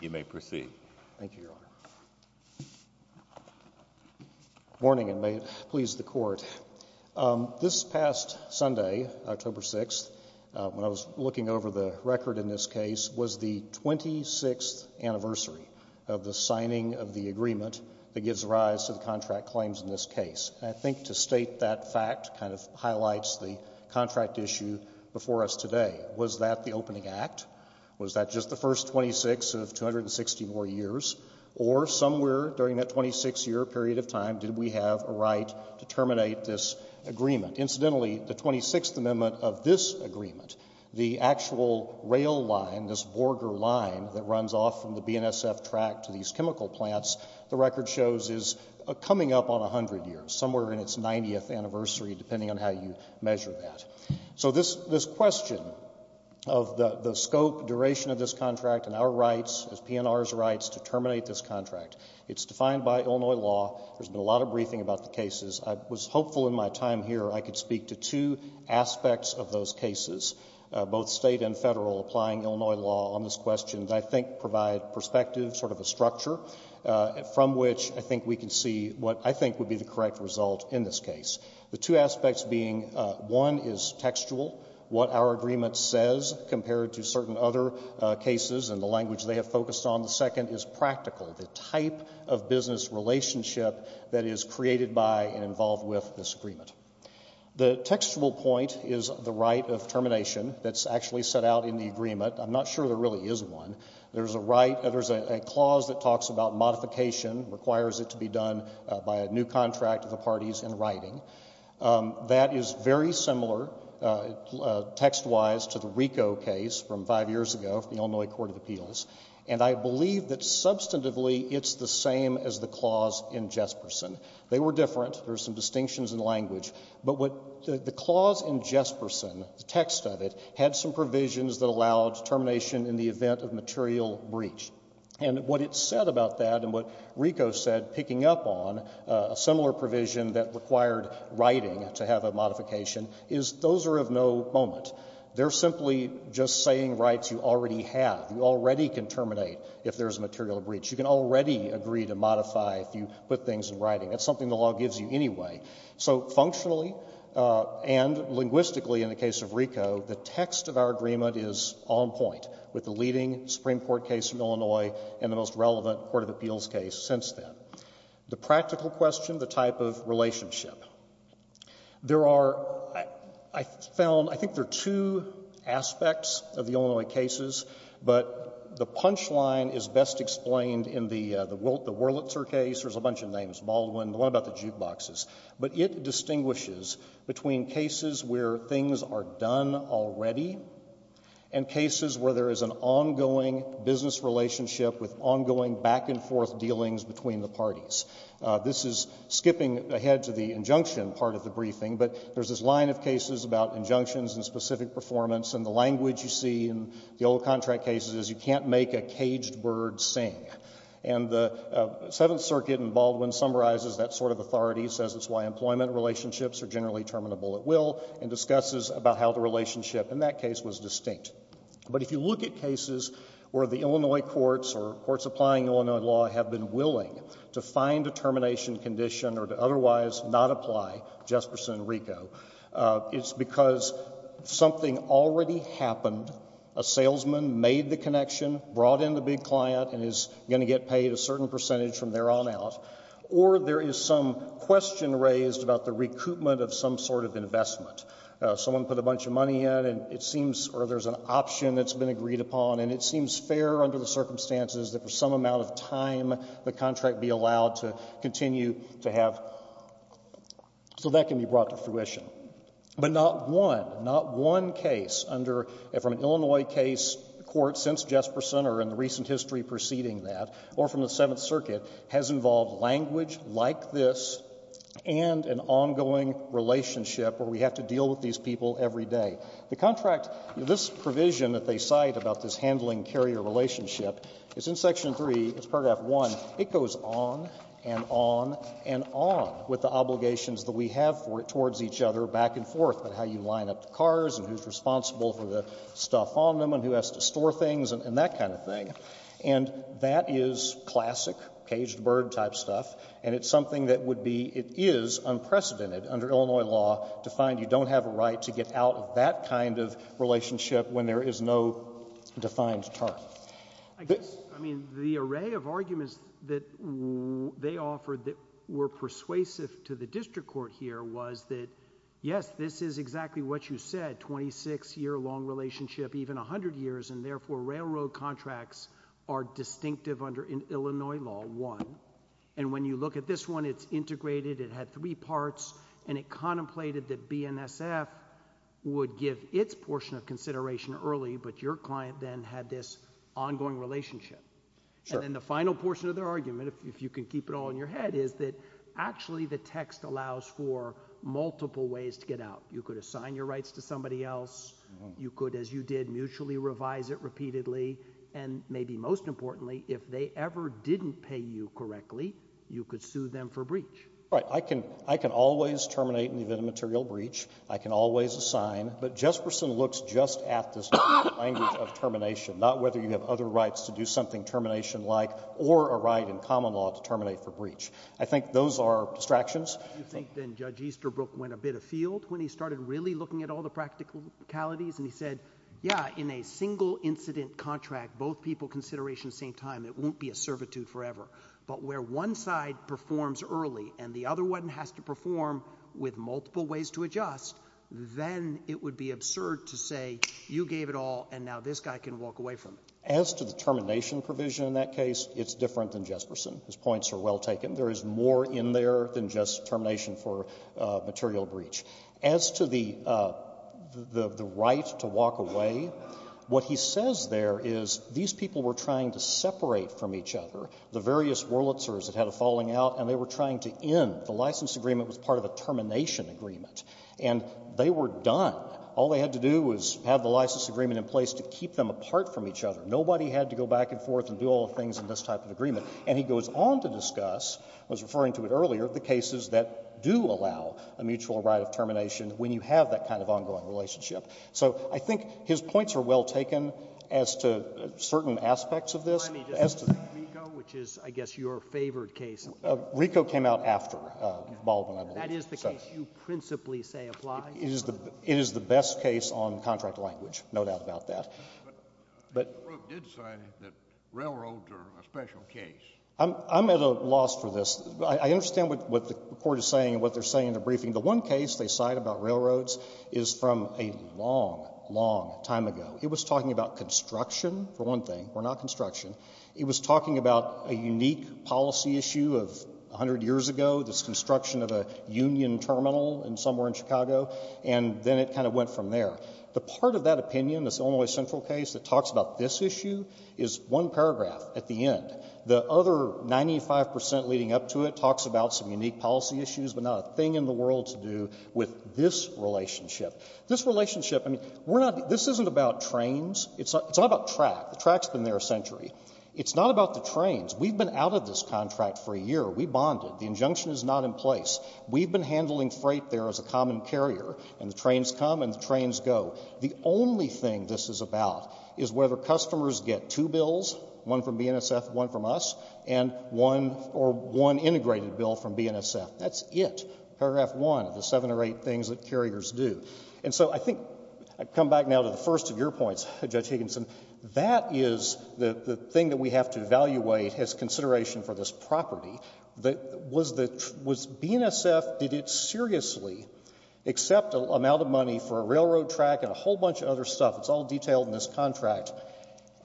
You may proceed. Thank you, Your Honor. Morning, and may it please the Court. This past Sunday, October 6th, when I was looking over the record in this case, was the 26th anniversary of the signing of the agreement that gives rise to the contract claims in this case. And I think to state that fact kind of highlights the contract issue before us today. Was that the opening act? Was that just the first 26 of 264 years? Or somewhere during that 26-year period of time did we have a right to terminate this agreement? Incidentally, the 26th Amendment of this agreement, the actual rail line, this Borger line that runs off from the BNSF track to these chemical plants, the record shows is coming up on 100 years, somewhere in its 90th anniversary, depending on how you measure that. So this question of the scope, duration of this contract and our rights, as PNR's rights, to terminate this contract, it's defined by Illinois law. There's been a lot of briefing about the cases. I was hopeful in my time here I could speak to two aspects of those cases, both state and federal, applying Illinois law on this question that I think provide perspective, sort of a structure, from which I think we can see what I think would be the correct result in this case. The two aspects being, one is textual, what our agreement says compared to certain other cases and the language they have focused on. The second is practical, the type of business relationship that is created by and involved with this agreement. The textual point is the right of termination that's actually set out in the agreement. I'm not sure there really is one. There's a right, there's a clause that talks about modification, requires it to be done by a new contract of the parties in writing. That is very similar text-wise to the RICO case from five years ago, the Illinois Court of Appeals, and I believe that substantively it's the same as the clause in Jesperson. They were different. There's some distinctions in language, but what the clause in Jesperson, the text of it, had some provisions that allowed termination in the event of material breach. And what it said about that and what RICO said picking up on a similar provision that required writing to have a modification is those are of no moment. They're simply just saying rights you already have. You already can terminate if there's a material breach. You can already agree to modify if you put things in writing. That's something the law gives you anyway. So functionally and linguistically in the case of RICO, the text of our agreement is on point with the leading Supreme Court case in Illinois and the most relevant Court of Appeals case since then. The practical question, the type of relationship. There are, I found, I think there are two aspects of the Illinois cases, but the punchline is best explained in the Wurlitzer case. There's a bunch of names, Baldwin, the one about the jukeboxes. But it distinguishes between cases where things are done already and cases where there is an ongoing business relationship with ongoing back and forth dealings between the parties. This is skipping ahead to the injunction part of the briefing, but there's this line of cases about injunctions and specific performance and the language you see in the old contract cases is you can't make a caged circuit and Baldwin summarizes that sort of authority, says it's why employment relationships are generally terminable at will, and discusses about how the relationship in that case was distinct. But if you look at cases where the Illinois courts or courts applying Illinois law have been willing to find a termination condition or to otherwise not apply Jesperson and RICO, it's because something already happened, a salesman made the connection, brought in the big client and is going to get paid a certain percentage from there on out, or there is some question raised about the recoupment of some sort of investment. Someone put a bunch of money in and it seems, or there's an option that's been agreed upon and it seems fair under the circumstances that for some amount of time the contract be allowed to continue to have, so that can be brought to fruition. But not one, not one case under, from an Illinois case court since Jesperson or in the recent history preceding that, or from the Seventh Circuit, has involved language like this and an ongoing relationship where we have to deal with these people every day. The contract, this provision that they cite about this handling carrier relationship is in Section 3, it's each other back and forth about how you line up the cars and who's responsible for the stuff on them and who has to store things and that kind of thing. And that is classic caged bird type stuff, and it's something that would be, it is unprecedented under Illinois law to find you don't have a right to get out of that kind of relationship when there is no defined term. I guess, I mean, the array of arguments that they offered that were persuasive to the district court here was that, yes, this is exactly what you said, 26-year long relationship, even 100 years, and therefore railroad contracts are distinctive under Illinois law, one. And when you look at this one, it's integrated, it had three parts, and it contemplated that BNSF would give its portion of consideration early, but your client then had this ongoing relationship. Sure. And then the final portion of their argument, if you can keep it all in your head, is that actually the text allows for multiple ways to get out. You could assign your rights to somebody else, you could, as you did, mutually revise it repeatedly, and maybe most importantly, if they ever didn't pay you correctly, you could sue them for breach. Right. I can always terminate in the event of a material breach. I can always assign. But Jesperson looks just at this language of termination, not whether you have other rights to do something termination-like or a right in common law to terminate for breach. I think those are distractions. Do you think then Judge Easterbrook went a bit afield when he started really looking at all the practicalities and he said, yeah, in a single-incident contract, both people consideration at the same time, it won't be a servitude forever. But where one side performs early and the other one has to perform with multiple ways to adjust, then it would be absurd to say, you gave it all, and now this guy can walk away from it. As to the termination provision in that case, it's different than Jesperson. His points are well taken. There is more in there than just termination for material breach. As to the right to walk away, what he says there is these people were trying to separate from each other. The various Wurlitzers that had a falling out and they were trying to end. The license agreement was part of a termination agreement. And they were done. All they had to do was have the license agreement in place to keep them apart from each other. Nobody had to go back and forth and do all the things in this type of agreement. And he goes on to discuss, I was referring to it earlier, the cases that do allow a mutual right of termination when you have that kind of ongoing relationship. So I think his points are well taken as to certain aspects of this. Let me just say RICO, which is I guess your favorite case. RICO came out after Baldwin, I believe. That is the case you principally say applies? It is the best case on contract language, no doubt about that. But RICO did say that railroads are a special case. I'm at a loss for this. I understand what the court is saying and what they're saying in the briefing. The one case they cite about railroads is from a long, long time ago. It was talking about construction, for one thing, or not construction. It was talking about a unique policy issue of 100 years ago, this construction of a union terminal somewhere in Chicago. And then it kind of went from there. The part of that opinion, this Illinois Central case that talks about this issue is one paragraph at the end. The other 95 percent leading up to it talks about some unique policy issues, but not a thing in the world to do with this relationship. This relationship, I mean, we're not — this isn't about trains. It's not about track. The track's been there a century. It's not about the trains. We've been out of this contract for a year. We bonded. The injunction is not in place. We've been handling freight there as a common carrier. And the trains come and the trains go. The only thing this is about is whether customers get two bills, one from BNSF, one from us, and one — or one integrated bill from BNSF. That's it. Paragraph one of the seven or eight things that carriers do. And so I think — I come back now to the first of your points, Judge Higginson. That is the thing that we have to evaluate as consideration for this property. Was BNSF — did it seriously accept an amount of money for a railroad track and a whole bunch of other stuff? It's all detailed in this contract.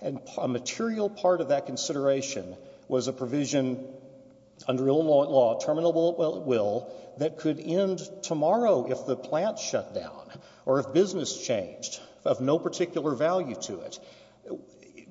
And a material part of that consideration was a provision under Illinois law, terminable at will, that could end tomorrow if the plant shut down or if business changed of no particular value to it.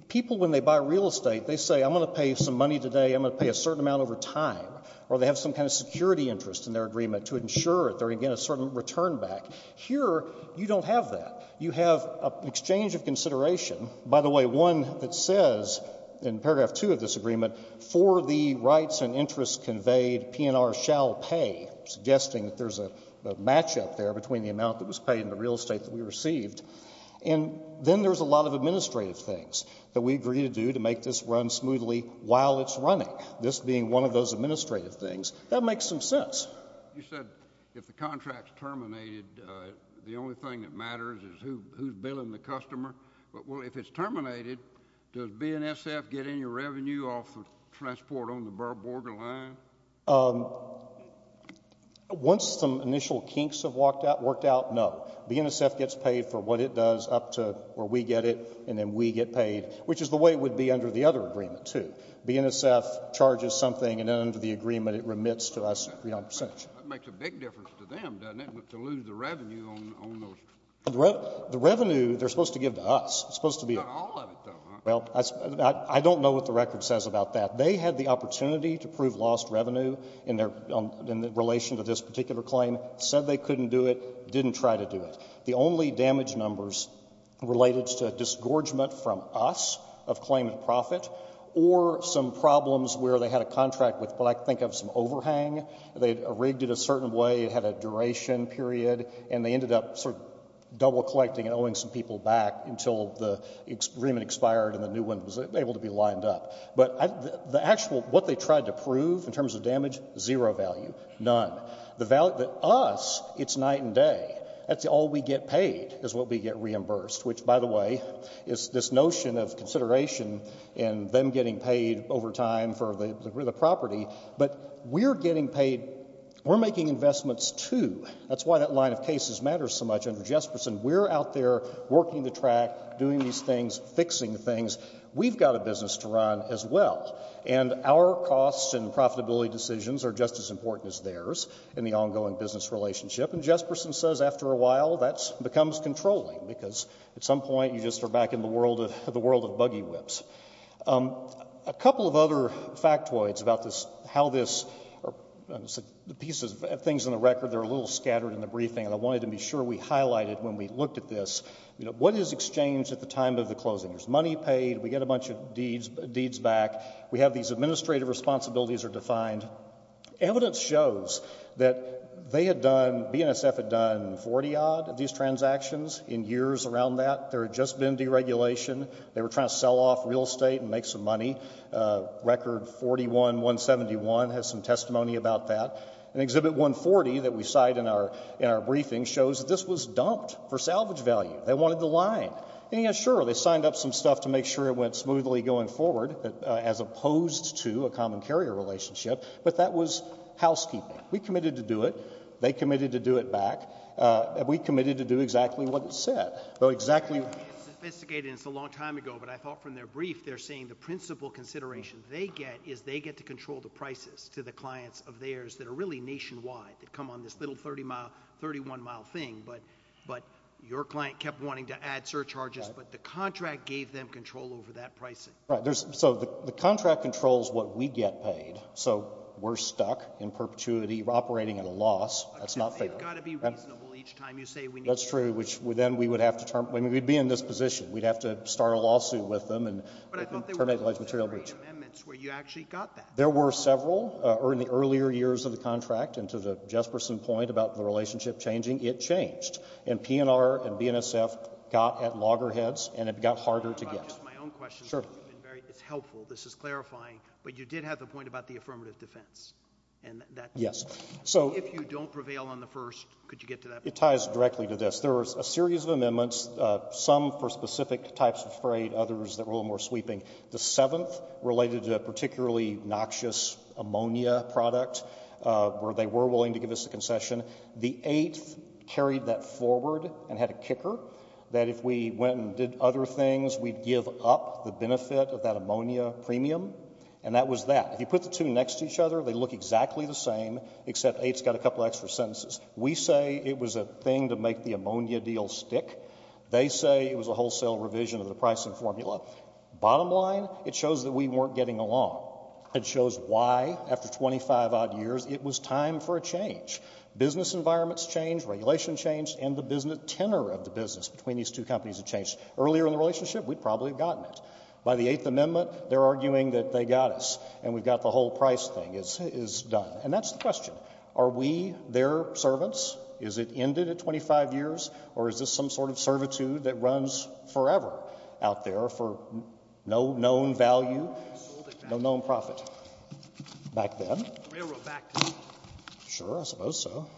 People, when they buy real estate, they say, I'm going to pay some money today. I'm going to pay a certain amount over time. Or they have some kind of security interest in their agreement to ensure that they're going to get a certain return back. Here, you don't have that. You have an exchange of consideration — by the way, one that says in paragraph two of this agreement, for the rights and interests conveyed, P&R shall pay, suggesting that there's a matchup there between the amount that was paid and the real estate that we received. And then there's a lot of administrative things that we agree to do to make this run smoothly while it's running. This being one of those administrative things, that makes some sense. You said if the contract's terminated, the only thing that matters is who's billing the customer. But, well, if it's terminated, does BNSF get any revenue off of transport on the borderline? Once some initial kinks have worked out, no. BNSF gets paid for what it does up to where we get it, and then we get paid, which is the way it would be under the other agreement, too. BNSF charges something, and then under the agreement, it remits to us a percentage. That makes a big difference to them, doesn't it, to lose the revenue on those — The revenue they're supposed to give to us. It's supposed to be — Not all of it, though, huh? Well, I don't know what the record says about that. They had the opportunity to prove lost revenue in their — in relation to this particular claim, said they couldn't do it, didn't try to do it. The only damage numbers related to a disgorgement from us of claimant profit, or some problems where they had a contract with what I think of some overhang, they rigged it a certain way, it had a duration period, and they ended up sort of double-collecting and owing some people back until the agreement expired and the new one was able to be lined up. But the actual — what they tried to prove in terms of damage, zero value, none. The — us, it's night and day. That's all we get paid is what we get reimbursed, which, by the way, is this notion of consideration and them getting paid over time for the property. But we're getting paid — we're making investments, too. That's why that line of cases matters so much under Jesperson. We're out there working the track, doing these things, fixing things. We've got a business to run as well. And our costs and profitability decisions are just as important as theirs in the ongoing business relationship. And Jesperson says after a while, that becomes controlling, because at some point you just are back in the world of buggy whips. A couple of other factoids about this — how this — the pieces — things in the record, they're a little scattered in the briefing, and I wanted to be sure we highlighted when we looked at this, you know, what is exchange at the time of the closing? There's money paid. We get a bunch of deeds back. We have these administrative responsibilities are defined. Evidence shows that they had done — BNSF had done 40-odd of these transactions in years around that. There had just been deregulation. They were trying to sell off real estate and make some money. Record 41-171 has some testimony about that. And Exhibit 140 that we cite in our briefing shows that this was dumped for salvage value. They wanted the line. And yeah, sure, they signed up some stuff to make sure it went smoothly going forward, as opposed to a common carrier relationship. But that was housekeeping. We committed to do it. They committed to do it back. We committed to do exactly what it said. Though exactly — It's sophisticated, and it's a long time ago, but I thought from their brief, they're saying the principal consideration they get is they get to control the prices to the clients of theirs that are really nationwide, that come on this little 30-mile, 31-mile thing. But your client kept wanting to add surcharges. But the contract gave them control over that pricing. Right. So the contract controls what we get paid. So we're stuck in perpetuity, operating at a loss. That's not fair. You've got to be reasonable each time you say — That's true, which then we would have to — I mean, we'd be in this position. We'd have to start a lawsuit with them and — But I thought there were some great amendments where you actually got that. There were several in the earlier years of the contract. And to the Jesperson point about the relationship changing, it changed. And PNR and BNSF got at loggerheads, and it got harder to get. Just my own question. Sure. It's helpful. This is clarifying. But you did have a point about the affirmative defense, and that — Yes. So — If you don't prevail on the first, could you get to that point? It ties directly to this. There was a series of amendments, some for specific types of freight, others that were a little more sweeping. The seventh related to a particularly noxious ammonia product, where they were willing to give us a concession. The eighth carried that forward and had a kicker, that if we went and did other things, we'd give up the benefit of that ammonia premium. And that was that. If you put the two next to each other, they look exactly the same, except eighth's got a couple extra sentences. We say it was a thing to make the ammonia deal stick. They say it was a wholesale revision of the pricing formula. Bottom line, it shows that we weren't getting along. Business environments changed, regulation changed, and the business — tenor of the business between these two companies had changed. Earlier in the relationship, we'd probably have gotten it. By the Eighth Amendment, they're arguing that they got us, and we've got the whole price thing is done. And that's the question. Are we their servants? Is it ended at 25 years, or is this some sort of servitude that runs forever out there for no known value, no known profit? Back then. Railroad back. Sure, I suppose so.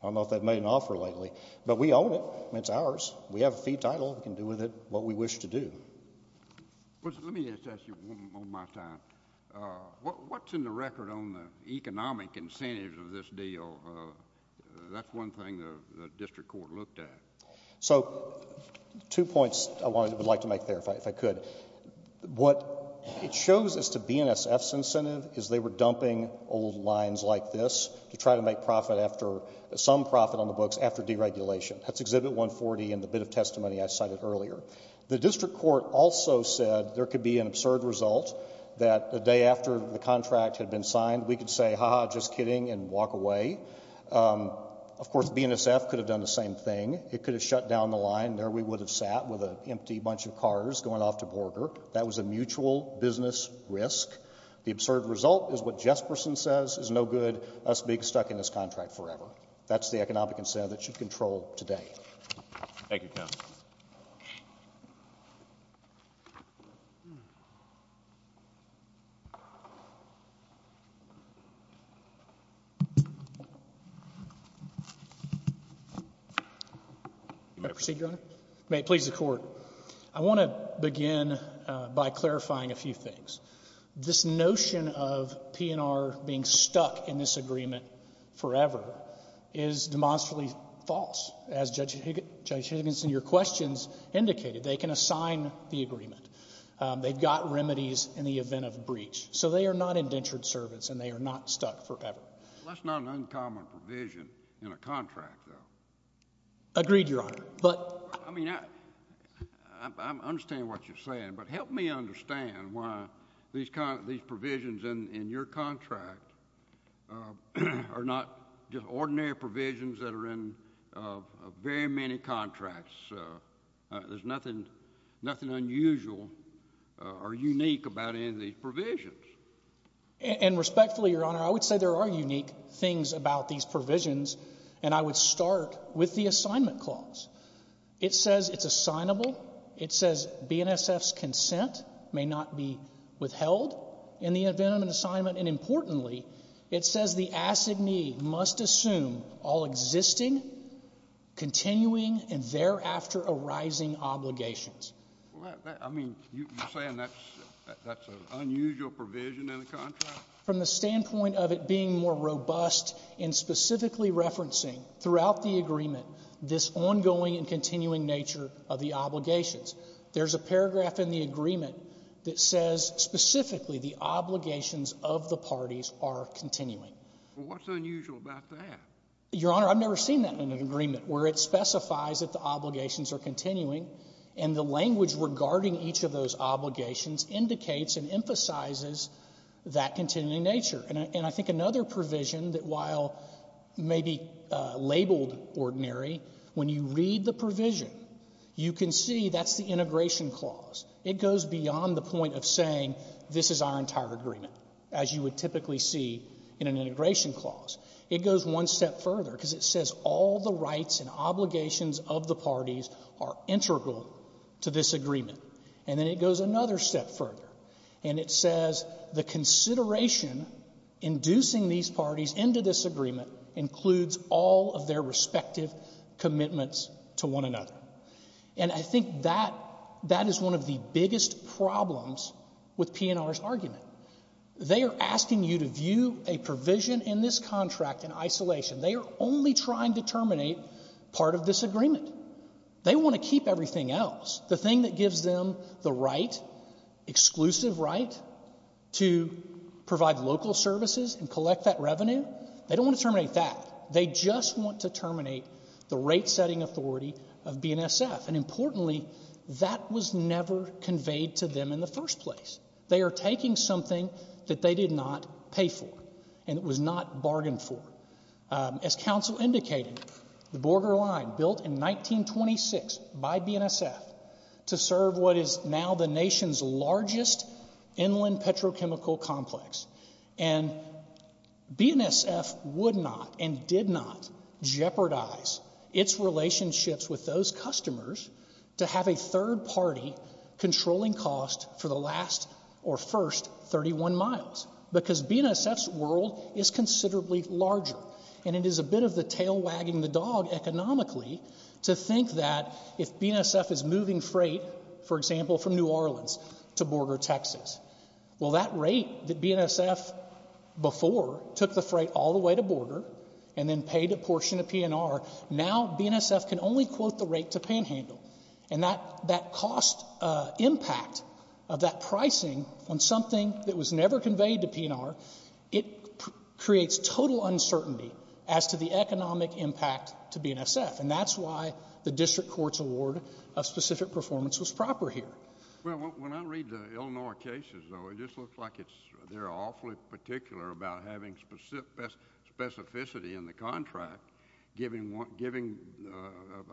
I don't know if they've made an offer lately. But we own it. It's ours. We have a fee title. We can do with it what we wish to do. Let me just ask you one more time. What's in the record on the economic incentives of this deal? That's one thing the district court looked at. So, two points I would like to make there, if I could. What it shows as to BNSF's incentive is they were dumping old lines like this to try to make some profit on the books after deregulation. That's Exhibit 140 and the bit of testimony I cited earlier. The district court also said there could be an absurd result that the day after the contract had been signed, we could say, ha ha, just kidding, and walk away. Of course, BNSF could have done the same thing. It could have shut down the line. We would have sat with an empty bunch of cars going off to Borger. That was a mutual business risk. The absurd result is what Jesperson says is no good, us being stuck in this contract forever. That's the economic incentive that should control today. Thank you, counsel. May I proceed, Your Honor? May it please the court. I want to begin by clarifying a few things. This notion of P&R being stuck in this agreement forever is demonstrably false. As Judge Higginson, your questions indicated, they can assign the agreement. They've got remedies in the event of breach. So they are not indentured servants, and they are not stuck forever. That's not an uncommon provision in a contract, though. Agreed, Your Honor. I mean, I understand what you're saying. But help me understand why these provisions in your contract are not just ordinary provisions that are in very many contracts. There's nothing unusual or unique about any of these provisions. And respectfully, Your Honor, I would say there are unique things about these provisions. And I would start with the assignment clause. It says it's assignable. It says BNSF's consent may not be withheld in the event of an assignment. And importantly, it says the assignee must assume all existing, continuing, and thereafter arising obligations. I mean, you're saying that's an unusual provision in a contract? From the standpoint of it being more robust in specifically referencing throughout the agreement this ongoing and continuing nature of the obligations. There's a paragraph in the agreement that says specifically the obligations of the parties are continuing. Well, what's unusual about that? Your Honor, I've never seen that in an agreement where it specifies that the obligations are continuing, and the language regarding each of those obligations indicates and emphasizes that continuing nature. And I think another provision that while maybe labeled ordinary, when you read the integration clause, it goes beyond the point of saying this is our entire agreement, as you would typically see in an integration clause. It goes one step further because it says all the rights and obligations of the parties are integral to this agreement. And then it goes another step further, and it says the consideration inducing these parties into this agreement includes all of their respective commitments to one another. And I think that is one of the biggest problems with PNR's argument. They are asking you to view a provision in this contract in isolation. They are only trying to terminate part of this agreement. They want to keep everything else. The thing that gives them the right, exclusive right, to provide local services and collect that revenue, they don't want to terminate that. They just want to terminate the rate-setting authority of BNSF. And importantly, that was never conveyed to them in the first place. They are taking something that they did not pay for, and it was not bargained for. As Council indicated, the Borger Line, built in 1926 by BNSF, to serve what is now the nation's largest inland petrochemical complex. And BNSF would not and did not jeopardize its relationships with those customers to have a third party controlling cost for the last or first 31 miles. Because BNSF's world is considerably larger, and it is a bit of the tail wagging the dog economically to think that if BNSF is moving freight, for example, from New Orleans to Borger, and then paid a portion to PNR, now BNSF can only quote the rate to Panhandle. And that cost impact of that pricing on something that was never conveyed to PNR, it creates total uncertainty as to the economic impact to BNSF. And that's why the District Court's award of specific performance was proper here. Well, when I read the Illinois cases, though, it just looks like they're awfully particular about having specificity in the contract, giving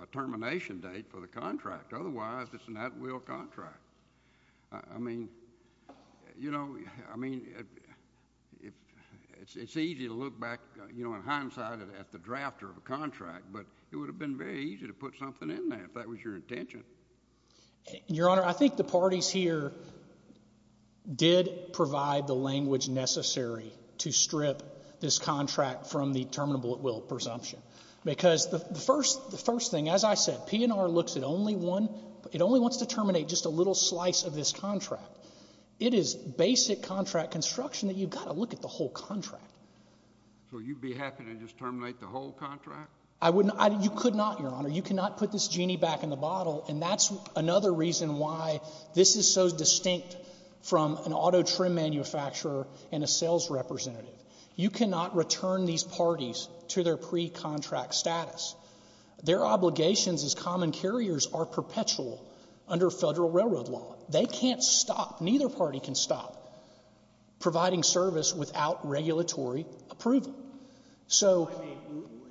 a termination date for the contract. Otherwise, it's an at-will contract. I mean, you know, I mean, it's easy to look back, you know, in hindsight at the drafter of a contract, but it would have been very easy to put something in there if that was your intention. Your Honor, I think the parties here did provide the language necessary to strip this contract from the terminable at-will presumption. Because the first thing, as I said, PNR looks at only one, it only wants to terminate just a little slice of this contract. It is basic contract construction that you've got to look at the whole contract. So you'd be happy to just terminate the whole contract? I wouldn't. You could not, Your Honor. You cannot put this genie back in the bottle. And that's another reason why this is so distinct from an auto trim manufacturer and a sales representative. You cannot return these parties to their pre-contract status. Their obligations as common carriers are perpetual under federal railroad law. They can't stop, neither party can stop, providing service without regulatory approval. So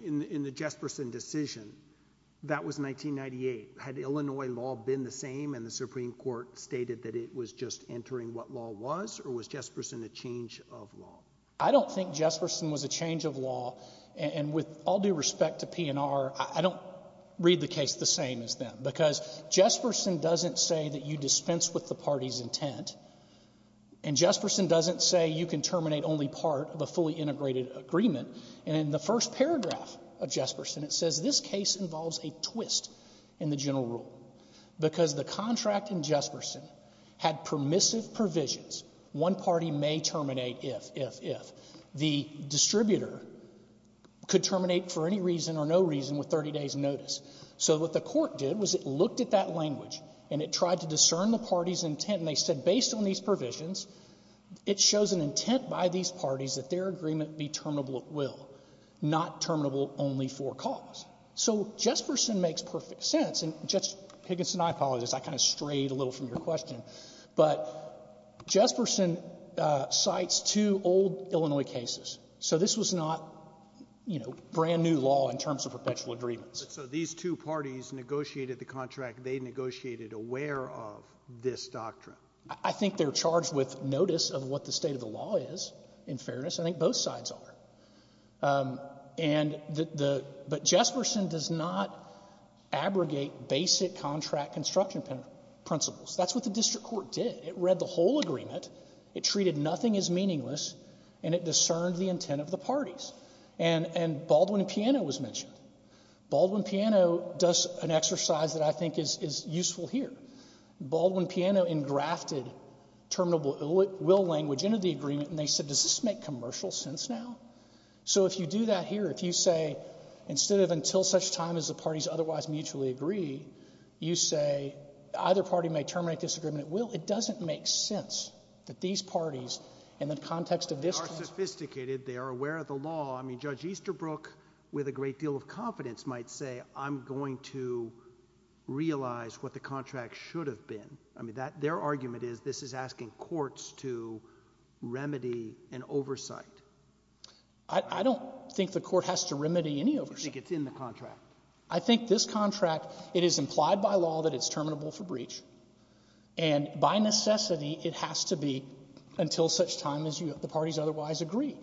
in the Jesperson decision, that was 1998. Had Illinois law been the same and the Supreme Court stated that it was just entering what law was? Or was Jesperson a change of law? I don't think Jesperson was a change of law. And with all due respect to PNR, I don't read the case the same as them. Because Jesperson doesn't say that you dispense with the party's intent. And Jesperson doesn't say you can terminate only part of a fully integrated agreement. And in the first paragraph of Jesperson, it says this case involves a twist in the general rule because the contract in Jesperson had permissive provisions. One party may terminate if, if, if. The distributor could terminate for any reason or no reason with 30 days notice. So what the court did was it looked at that language and it tried to discern the party's intent. And they said based on these provisions, it shows an intent by these parties that their agreement be terminable at will, not terminable only for cause. So Jesperson makes perfect sense. And, Judge Higginson, I apologize. I kind of strayed a little from your question. But Jesperson cites two old Illinois cases. So this was not, you know, brand new law in terms of perpetual agreements. So these two parties negotiated the contract. They negotiated aware of this doctrine. I think they're charged with notice of what the state of the law is, in fairness. I think both sides are. And the, the, but Jesperson does not abrogate basic contract construction principles. That's what the district court did. It read the whole agreement. It treated nothing as meaningless. And it discerned the intent of the parties. And, and Baldwin and Piano was mentioned. Baldwin and Piano does an exercise that I think is, is useful here. Baldwin and Piano engrafted terminable will language into the agreement. And they said, does this make commercial sense now? So if you do that here, if you say, instead of until such time as the parties otherwise mutually agree, you say, either party may terminate this agreement at will. It doesn't make sense that these parties in the context of this. They are sophisticated. They are aware of the law. I mean, Judge Easterbrook with a great deal of confidence might say, I'm going to realize what the contract should have been. I mean, that, their argument is, this is asking courts to remedy an oversight. I, I don't think the court has to remedy any oversight. You think it's in the contract. I think this contract, it is implied by law that it's terminable for breach. And by necessity, it has to be until such time as you, the parties otherwise agree.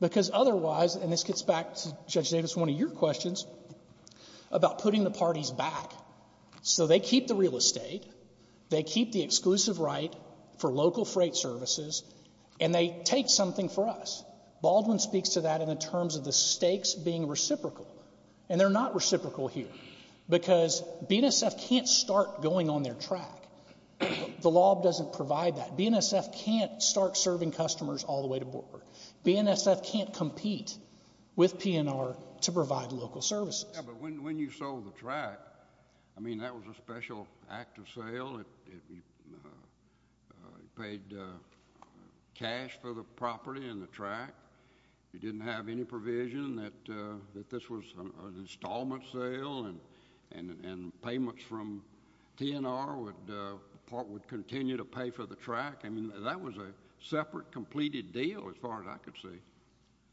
Because otherwise, and this gets back to Judge Davis, one of your questions, about putting the parties back. So they keep the real estate. They keep the exclusive right for local freight services. And they take something for us. Baldwin speaks to that in terms of the stakes being reciprocal. And they're not reciprocal here. Because BNSF can't start going on their track. The law doesn't provide that. BNSF can't start serving customers all the way to board. BNSF can't compete with PNR to provide local services. Yeah, but when, when you sold the track, I mean, that was a special act of sale. It, it, you paid cash for the property and the track. You didn't have any provision that, that this was an installment sale. And, and, and payments from PNR would, would continue to pay for the track. I mean, that was a separate, completed deal as far as I could see.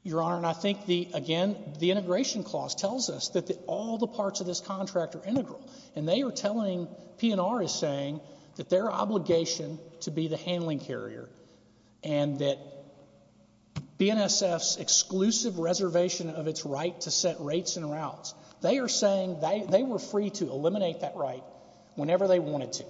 Your Honor, and I think the, again, the integration clause tells us that all the parts of this contract are integral. And they are telling, PNR is saying that their obligation to be the handling carrier. And that BNSF's exclusive reservation of its right to set rates and routes, they are saying they, they were free to eliminate that right whenever they wanted to.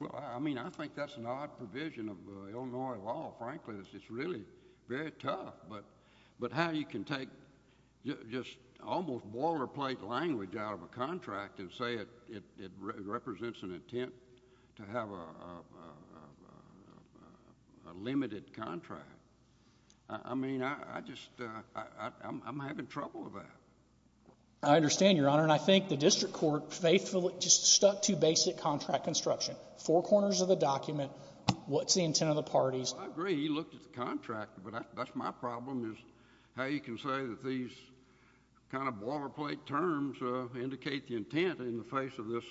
Well, I mean, I think that's an odd provision of Illinois law. Frankly, it's, it's really very tough. But, but how you can take just almost boilerplate language out of a contract and say it, it, it represents an intent to have a, a, a, a limited contract. I mean, I, I just, I, I, I'm, I'm having trouble with that. I understand, Your Honor. And I think the district court faithfully just stuck to basic contract construction. Four corners of the document. What's the intent of the parties? Well, I agree. He looked at the contract. But I, that's my problem is how you can say that these kind of boilerplate terms indicate the intent in the face of this,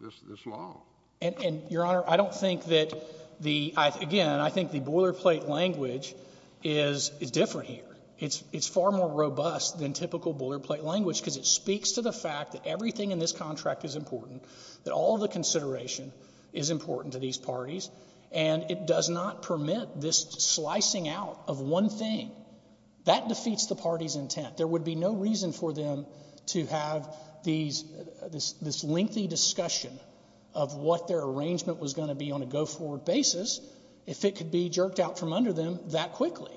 this, this law. And, and Your Honor, I don't think that the, I, again, I think the boilerplate language is, is different here. It's, it's far more robust than typical boilerplate language because it speaks to the fact that everything in this contract is important, that all the consideration is important to these parties, and it does not permit this slicing out of one thing. That defeats the party's intent. There would be no reason for them to have these, this, this lengthy discussion of what their arrangement was going to be on a go-forward basis if it could be jerked out from under them that quickly,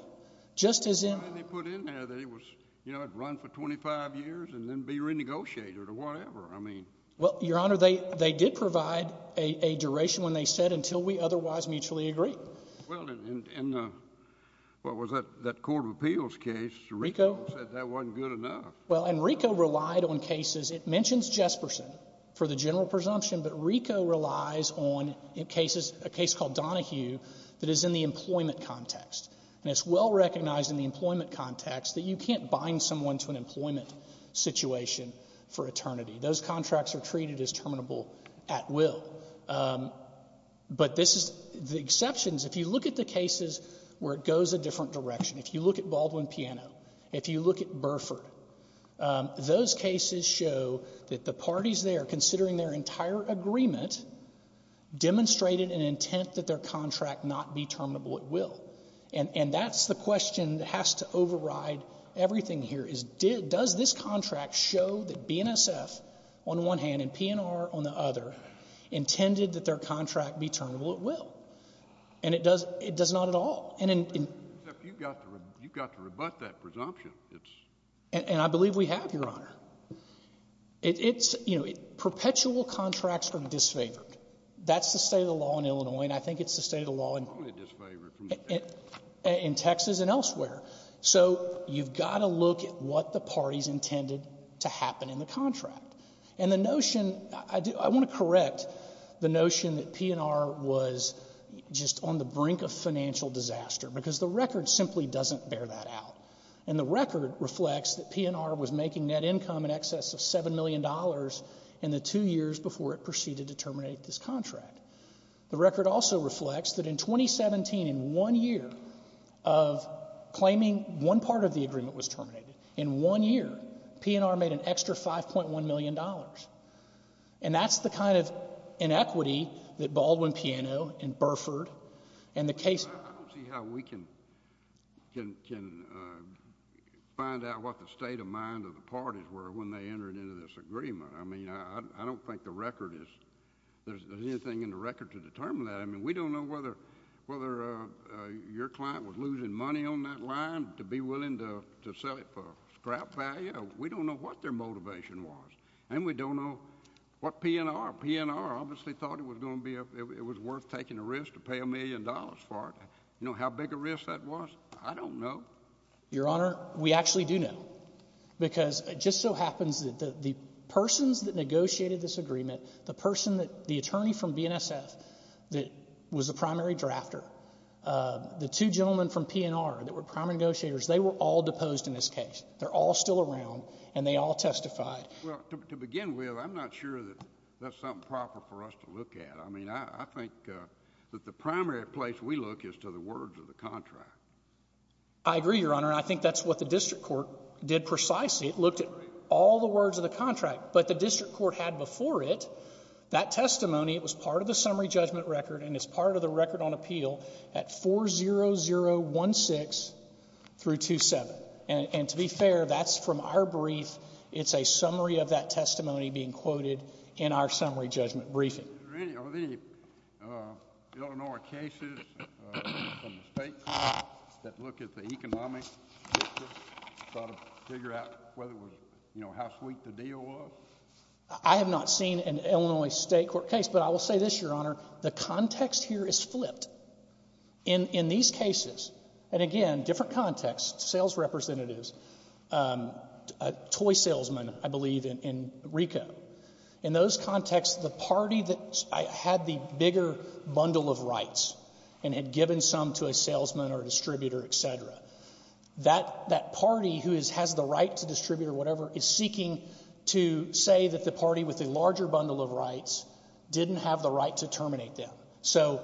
just as in. I mean, they put in there that it was, you know, it'd run for 25 years and then be renegotiated or whatever. I mean. Well, Your Honor, they, they did provide a, a duration when they said until we otherwise mutually agree. Well, and, and, and, uh, what was that, that court of appeals case? RICO. Said that wasn't good enough. Well, and RICO relied on cases. It mentions Jesperson for the general presumption, but RICO relies on cases, a employment context. And it's well recognized in the employment context that you can't bind someone to an employment situation for eternity. Those contracts are treated as terminable at will. But this is, the exceptions, if you look at the cases where it goes a different direction, if you look at Baldwin Piano, if you look at Burford, those cases show that the parties there, considering their entire agreement, demonstrated an intent that their contract not be terminable at will. And, and that's the question that has to override everything here is did, does this contract show that BNSF on one hand and PNR on the other intended that their contract be terminable at will? And it does, it does not at all. And, and, except you've got to, you've got to rebut that presumption. It's, and I believe we have, Your Honor. It, it's, you know, perpetual contracts are disfavored. That's the state of the law in Illinois. And I think it's the state of the law in, in Texas and elsewhere. So you've got to look at what the parties intended to happen in the contract. And the notion, I do, I want to correct the notion that PNR was just on the brink of financial disaster because the record simply doesn't bear that out. And the record reflects that PNR was making net income in excess of $7 million in the two years before it proceeded to terminate this contract. The record also reflects that in 2017, in one year of claiming one part of the agreement was terminated, in one year, PNR made an extra $5.1 million. And that's the kind of inequity that Baldwin-Piano and Burford and the case— I don't see how we can, can, can find out what the state of mind of the parties were when they entered into this agreement. I mean, I don't think the record is, there's anything in the record to determine that. I mean, we don't know whether, whether your client was losing money on that line to be willing to sell it for scrap value. We don't know what their motivation was. And we don't know what PNR, PNR obviously thought it was going to be, it was worth taking a risk to pay a million dollars for it. You know how big a risk that was? I don't know. Your Honor, we actually do know. Because it just so happens that the persons that negotiated this agreement, the person that, the attorney from BNSF that was the primary drafter, the two gentlemen from PNR that were primary negotiators, they were all deposed in this case. They're all still around, and they all testified. Well, to begin with, I'm not sure that that's something proper for us to look at. I mean, I think that the primary place we look is to the words of the contract. I agree, Your Honor. I think that's what the district court did precisely. It looked at all the words of the contract. But the district court had before it that testimony. It was part of the summary judgment record, and it's part of the record on appeal at 40016 through 27. And to be fair, that's from our brief. It's a summary of that testimony being quoted in our summary judgment briefing. Really, are there any Illinois cases from the state court that look at the economic sort of figure out whether it was, you know, how sweet the deal was? I have not seen an Illinois state court case. But I will say this, Your Honor. The context here is flipped. In these cases, and again, different context, sales representatives, a toy salesman, I believe, in RICO. In those contexts, the party that had the bigger bundle of rights and had given some to a salesman or distributor, et cetera, that party who has the right to distribute or whatever is seeking to say that the party with a larger bundle of rights didn't have the right to terminate them. So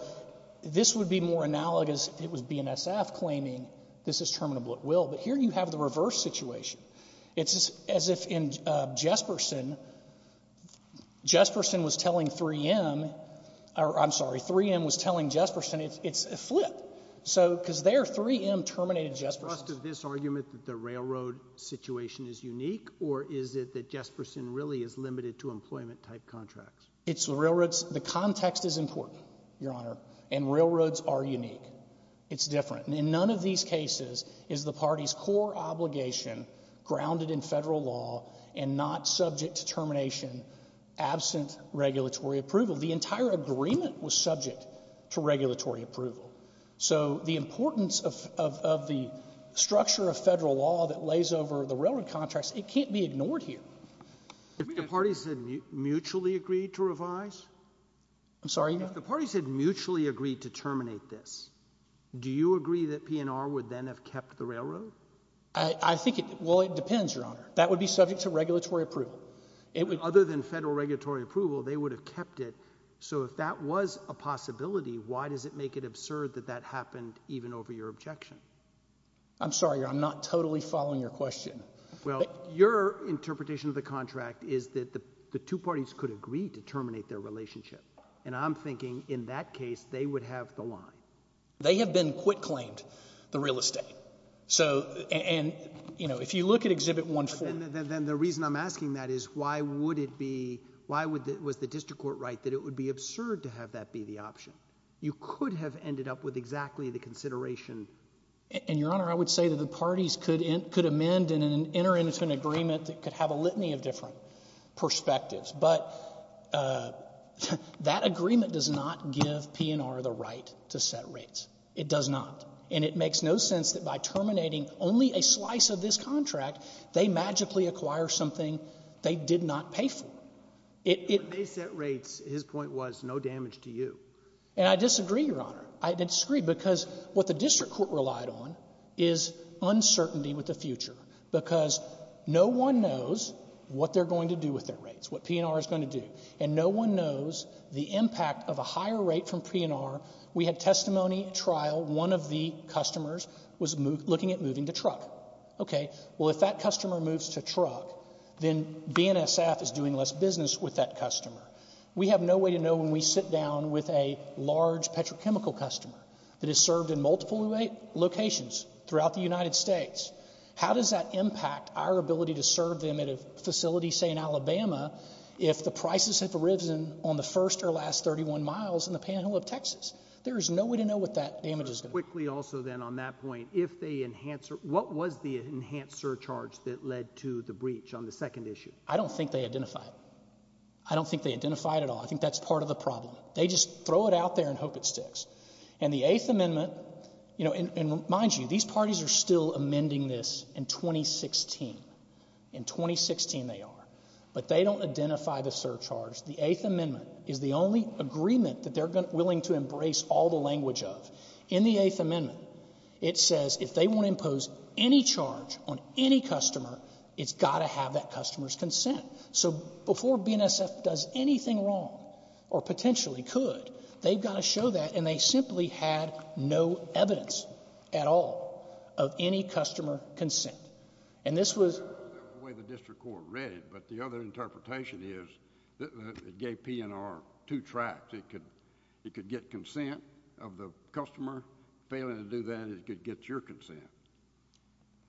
this would be more analogous if it was BNSF claiming this is terminable at will. But here you have the reverse situation. It's as if in Jesperson, Jesperson was telling 3M, I'm sorry, 3M was telling Jesperson, it's a flip. Because there, 3M terminated Jesperson. Do you trust this argument that the railroad situation is unique, or is it that Jesperson really is limited to employment-type contracts? It's railroads. The context is important, Your Honor. And railroads are unique. It's different. In none of these cases is the party's core obligation grounded in federal law and not subject to termination absent regulatory approval. The entire agreement was subject to regulatory approval. So the importance of the structure of federal law that lays over the railroad contracts, it can't be ignored here. If the parties had mutually agreed to revise? I'm sorry, Your Honor? If the parties had mutually agreed to terminate this, do you agree that PNR would then have kept the railroad? I think it, well, it depends, Your Honor. That would be subject to regulatory approval. Other than federal regulatory approval, they would have kept it. So if that was a possibility, why does it make it absurd that that happened even over your objection? I'm sorry, I'm not totally following your question. Well, your interpretation of the contract is that the two parties could agree to terminate their relationship. And I'm thinking in that case, they would have the line. They have been quit-claimed the real estate. So, and, you know, if you look at Exhibit 1-4. Then the reason I'm asking that is why would it be, why would, was the district court right that it would be absurd to have that be the option? You could have ended up with exactly the consideration. And, Your Honor, I would say that the parties could amend and enter into an agreement that could have a litany of different perspectives. But that agreement does not give P&R the right to set rates. It does not. And it makes no sense that by terminating only a slice of this contract, they magically acquire something they did not pay for. When they set rates, his point was no damage to you. And I disagree, Your Honor. I disagree because what the district court relied on is uncertainty with the future. Because no one knows what they're going to do with their rates. What P&R is going to do. And no one knows the impact of a higher rate from P&R. We had testimony at trial. One of the customers was looking at moving to truck. Okay. Well, if that customer moves to truck, then BNSF is doing less business with that customer. We have no way to know when we sit down with a large petrochemical customer that has served in multiple locations throughout the United States. How does that impact our ability to serve them at a facility, say in Alabama, if the prices have arisen on the first or last 31 miles in the Panhandle of Texas? There is no way to know what that damage is going to be. Quickly also, then, on that point, if they enhance — what was the enhanced surcharge that led to the breach on the second issue? I don't think they identified it. I don't think they identified it at all. I think that's part of the problem. They just throw it out there and hope it sticks. And the Eighth Amendment — you know, and mind you, these parties are still amending this in 2016. In 2016, they are. But they don't identify the surcharge. The Eighth Amendment is the only agreement that they're willing to embrace all the language of. In the Eighth Amendment, it says if they want to impose any charge on any customer, it's got to have that customer's consent. So before BNSF does anything wrong, or potentially could, they've got to show that. And they simply had no evidence at all of any customer consent. And this was — I understand that's the way the district court read it. But the other interpretation is it gave PNR two tracks. It could get consent of the customer. Failing to do that, it could get your consent.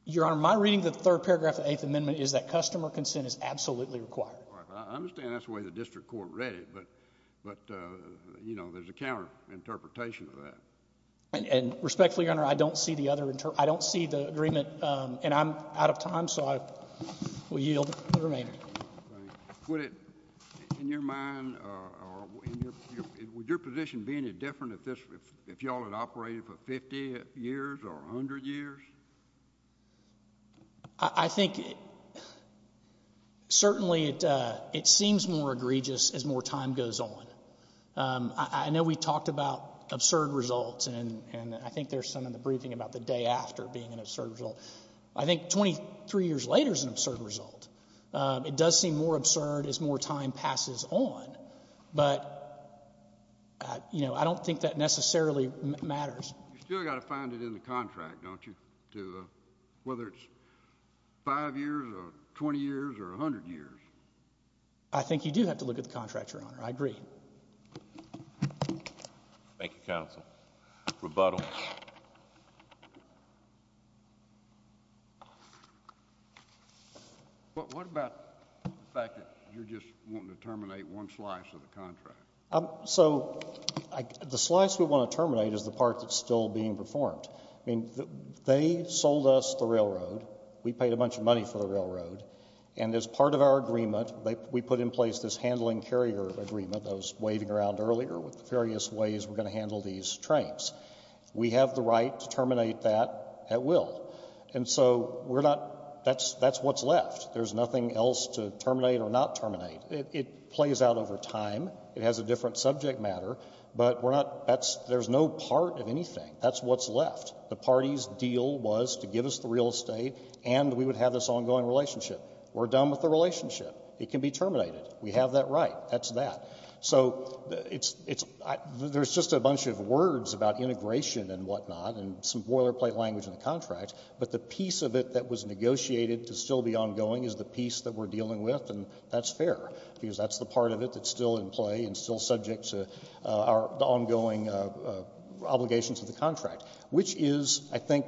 Your Honor, my reading of the third paragraph of the Eighth Amendment is that customer consent is absolutely required. I understand that's the way the district court read it. But, you know, there's a counter-interpretation of that. And respectfully, Your Honor, I don't see the other — I don't see the agreement. And I'm out of time. So I will yield the remainder. Would it — in your mind, or in your — would your position be any different if this — if y'all had operated for 50 years or 100 years? I think, certainly, it seems more egregious as more time goes on. I know we talked about absurd results. And I think there's some in the briefing about the day after being an absurd result. I think 23 years later is an absurd result. It does seem more absurd as more time passes on. But, you know, I don't think that necessarily matters. You've still got to find it in the contract, don't you? To — whether it's 5 years or 20 years or 100 years. I think you do have to look at the contract, Your Honor. I agree. Thank you, counsel. Rebuttal. What about the fact that you're just wanting to terminate one slice of the contract? So the slice we want to terminate is the part that's still being performed. I mean, they sold us the railroad. We paid a bunch of money for the railroad. And as part of our agreement, we put in place this handling carrier agreement I was waving around earlier with the various ways we're going to handle these trains. We have the right to terminate that at will. And so we're not — that's what's left. There's nothing else to terminate or not terminate. It plays out over time. It has a different subject matter. But we're not — that's — there's no part of anything. That's what's left. The party's deal was to give us the real estate and we would have this ongoing relationship. We're done with the relationship. It can be terminated. We have that right. That's that. So it's — there's just a bunch of words about integration and whatnot and some boilerplate language in the contract. But the piece of it that was negotiated to still be ongoing is the piece that we're dealing with. And that's fair because that's the part of it that's still in play and still subject to our — the ongoing obligations of the contract, which is, I think,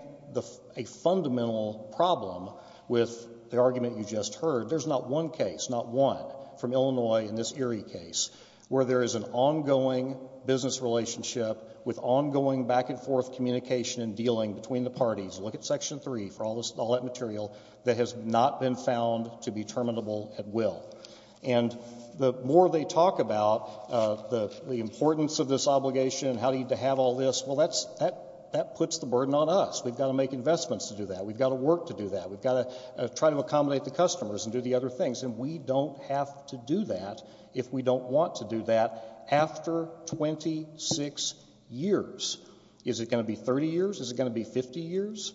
a fundamental problem with the argument you just heard. There's not one case, not one, from Illinois in this Erie case where there is an ongoing business relationship with ongoing back-and-forth communication and dealing between the parties. Look at Section 3 for all that material that has not been found to be terminable at will. And the more they talk about the importance of this obligation and how you need to have all this, well, that puts the burden on us. We've got to make investments to do that. We've got to work to do that. We've got to try to accommodate the customers and do the other things. And we don't have to do that if we don't want to do that after 26 years. Is it going to be 30 years? Is it going to be 50 years?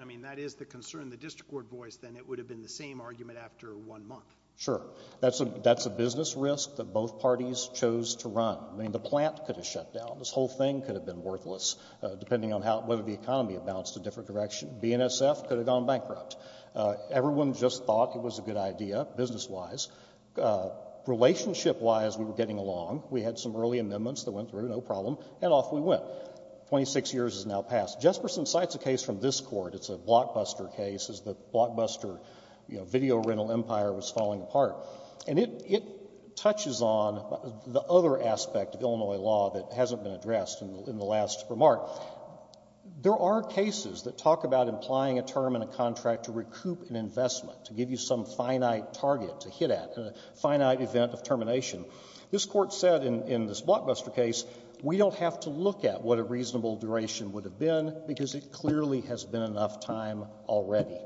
I mean, that is the concern. The district court voice, then, it would have been the same argument after one month. Sure. That's a business risk that both parties chose to run. I mean, the plant could have shut down. This whole thing could have been worthless, depending on whether the economy had bounced a different direction. BNSF could have gone bankrupt. Everyone just thought it was a good idea, business-wise. Relationship-wise, we were getting along. We had some early amendments that went through, no problem. And off we went. 26 years has now passed. Jesperson cites a case from this court. It's a Blockbuster case. The Blockbuster video rental empire was falling apart. And it touches on the other aspect of Illinois law that hasn't been addressed in the last remark. There are cases that talk about implying a term in a contract to recoup an investment, to give you some finite target to hit at, a finite event of termination. This court said in this Blockbuster case, we don't have to look at what a reasonable duration would have been, because it clearly has been enough time already.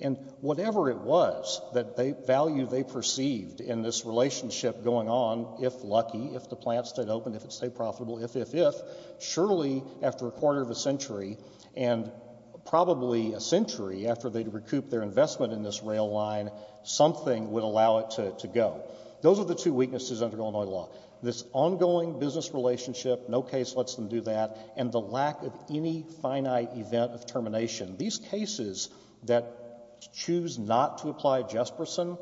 And whatever it was, the value they perceived in this relationship going on, if lucky, if the plant stayed open, if it stayed profitable, if, if, if, surely, after a quarter of a century, and probably a century after they'd recouped their investment in this rail line, something would allow it to go. Those are the two weaknesses under Illinois law. This ongoing business relationship, no case lets them do that, and the lack of any finite event of termination. These cases that choose not to apply Jesperson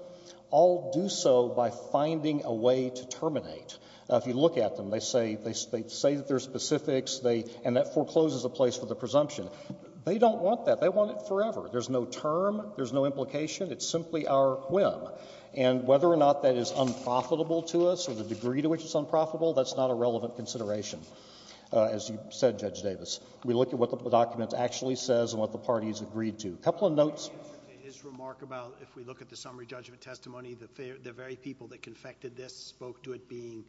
all do so by finding a way to terminate. If you look at them, they say, they say that their specifics, they, and that forecloses a place for the presumption. They don't want that. They want it forever. There's no term. There's no implication. It's simply our whim. And whether or not that is unprofitable to us, or the degree to which it's unprofitable, that's not a relevant consideration. As you said, Judge Davis, we look at what the document actually says, and what the parties agreed to. Couple of notes. Can you answer his remark about, if we look at the summary judgment testimony, that the very people that confected this spoke to it being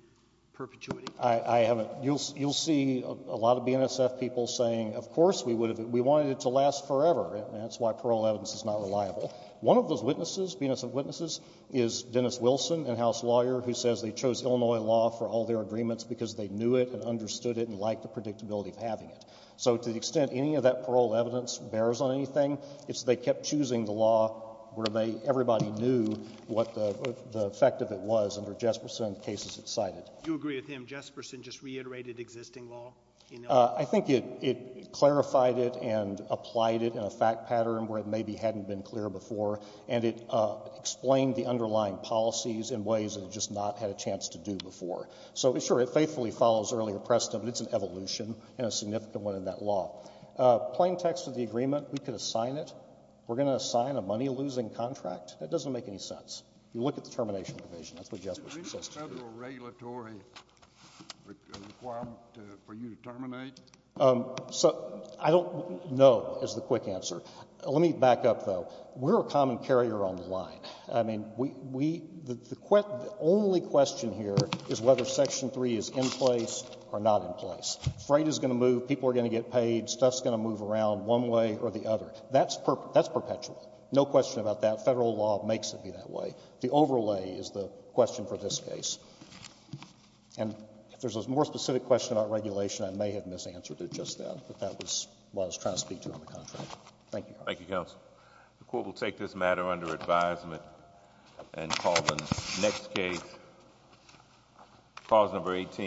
perpetuity? I haven't. You'll, you'll see a lot of BNSF people saying, of course, we would have, we wanted it to last forever, and that's why parole evidence is not reliable. One of those witnesses, BNSF witnesses, is Dennis Wilson, in-house lawyer, who says they chose Illinois law for all their agreements because they knew it, understood it, and liked the predictability of having it. So to the extent any of that parole evidence bears on anything, it's they kept choosing the law where they, everybody knew what the effect of it was under Jesperson and the cases it cited. Do you agree with him? Jesperson just reiterated existing law in Illinois? I think it, it clarified it and applied it in a fact pattern where it maybe hadn't been clear before, and it explained the underlying policies in ways that it just not had a chance to do before. So, sure, it faithfully follows earlier precedent, but it's an evolution and a significant one in that law. Plain text of the agreement, we could assign it. We're going to assign a money-losing contract? That doesn't make any sense. You look at the termination provision. That's what Jesperson says. Is there a federal regulatory requirement for you to terminate? So, I don't know, is the quick answer. Let me back up, though. We're a common carrier on the line. I mean, we, the only question here is whether Section 3 is in place or not in place. Freight is going to move, people are going to get paid, stuff's going to move around one way or the other. That's perpetual. No question about that. Federal law makes it be that way. The overlay is the question for this case. And if there's a more specific question about regulation, I may have misanswered it just now, but that was what I was trying to speak to on the contract. Thank you, Your Honor. Thank you, counsel. The court will take this matter under advisement and call the next case. Clause number 18.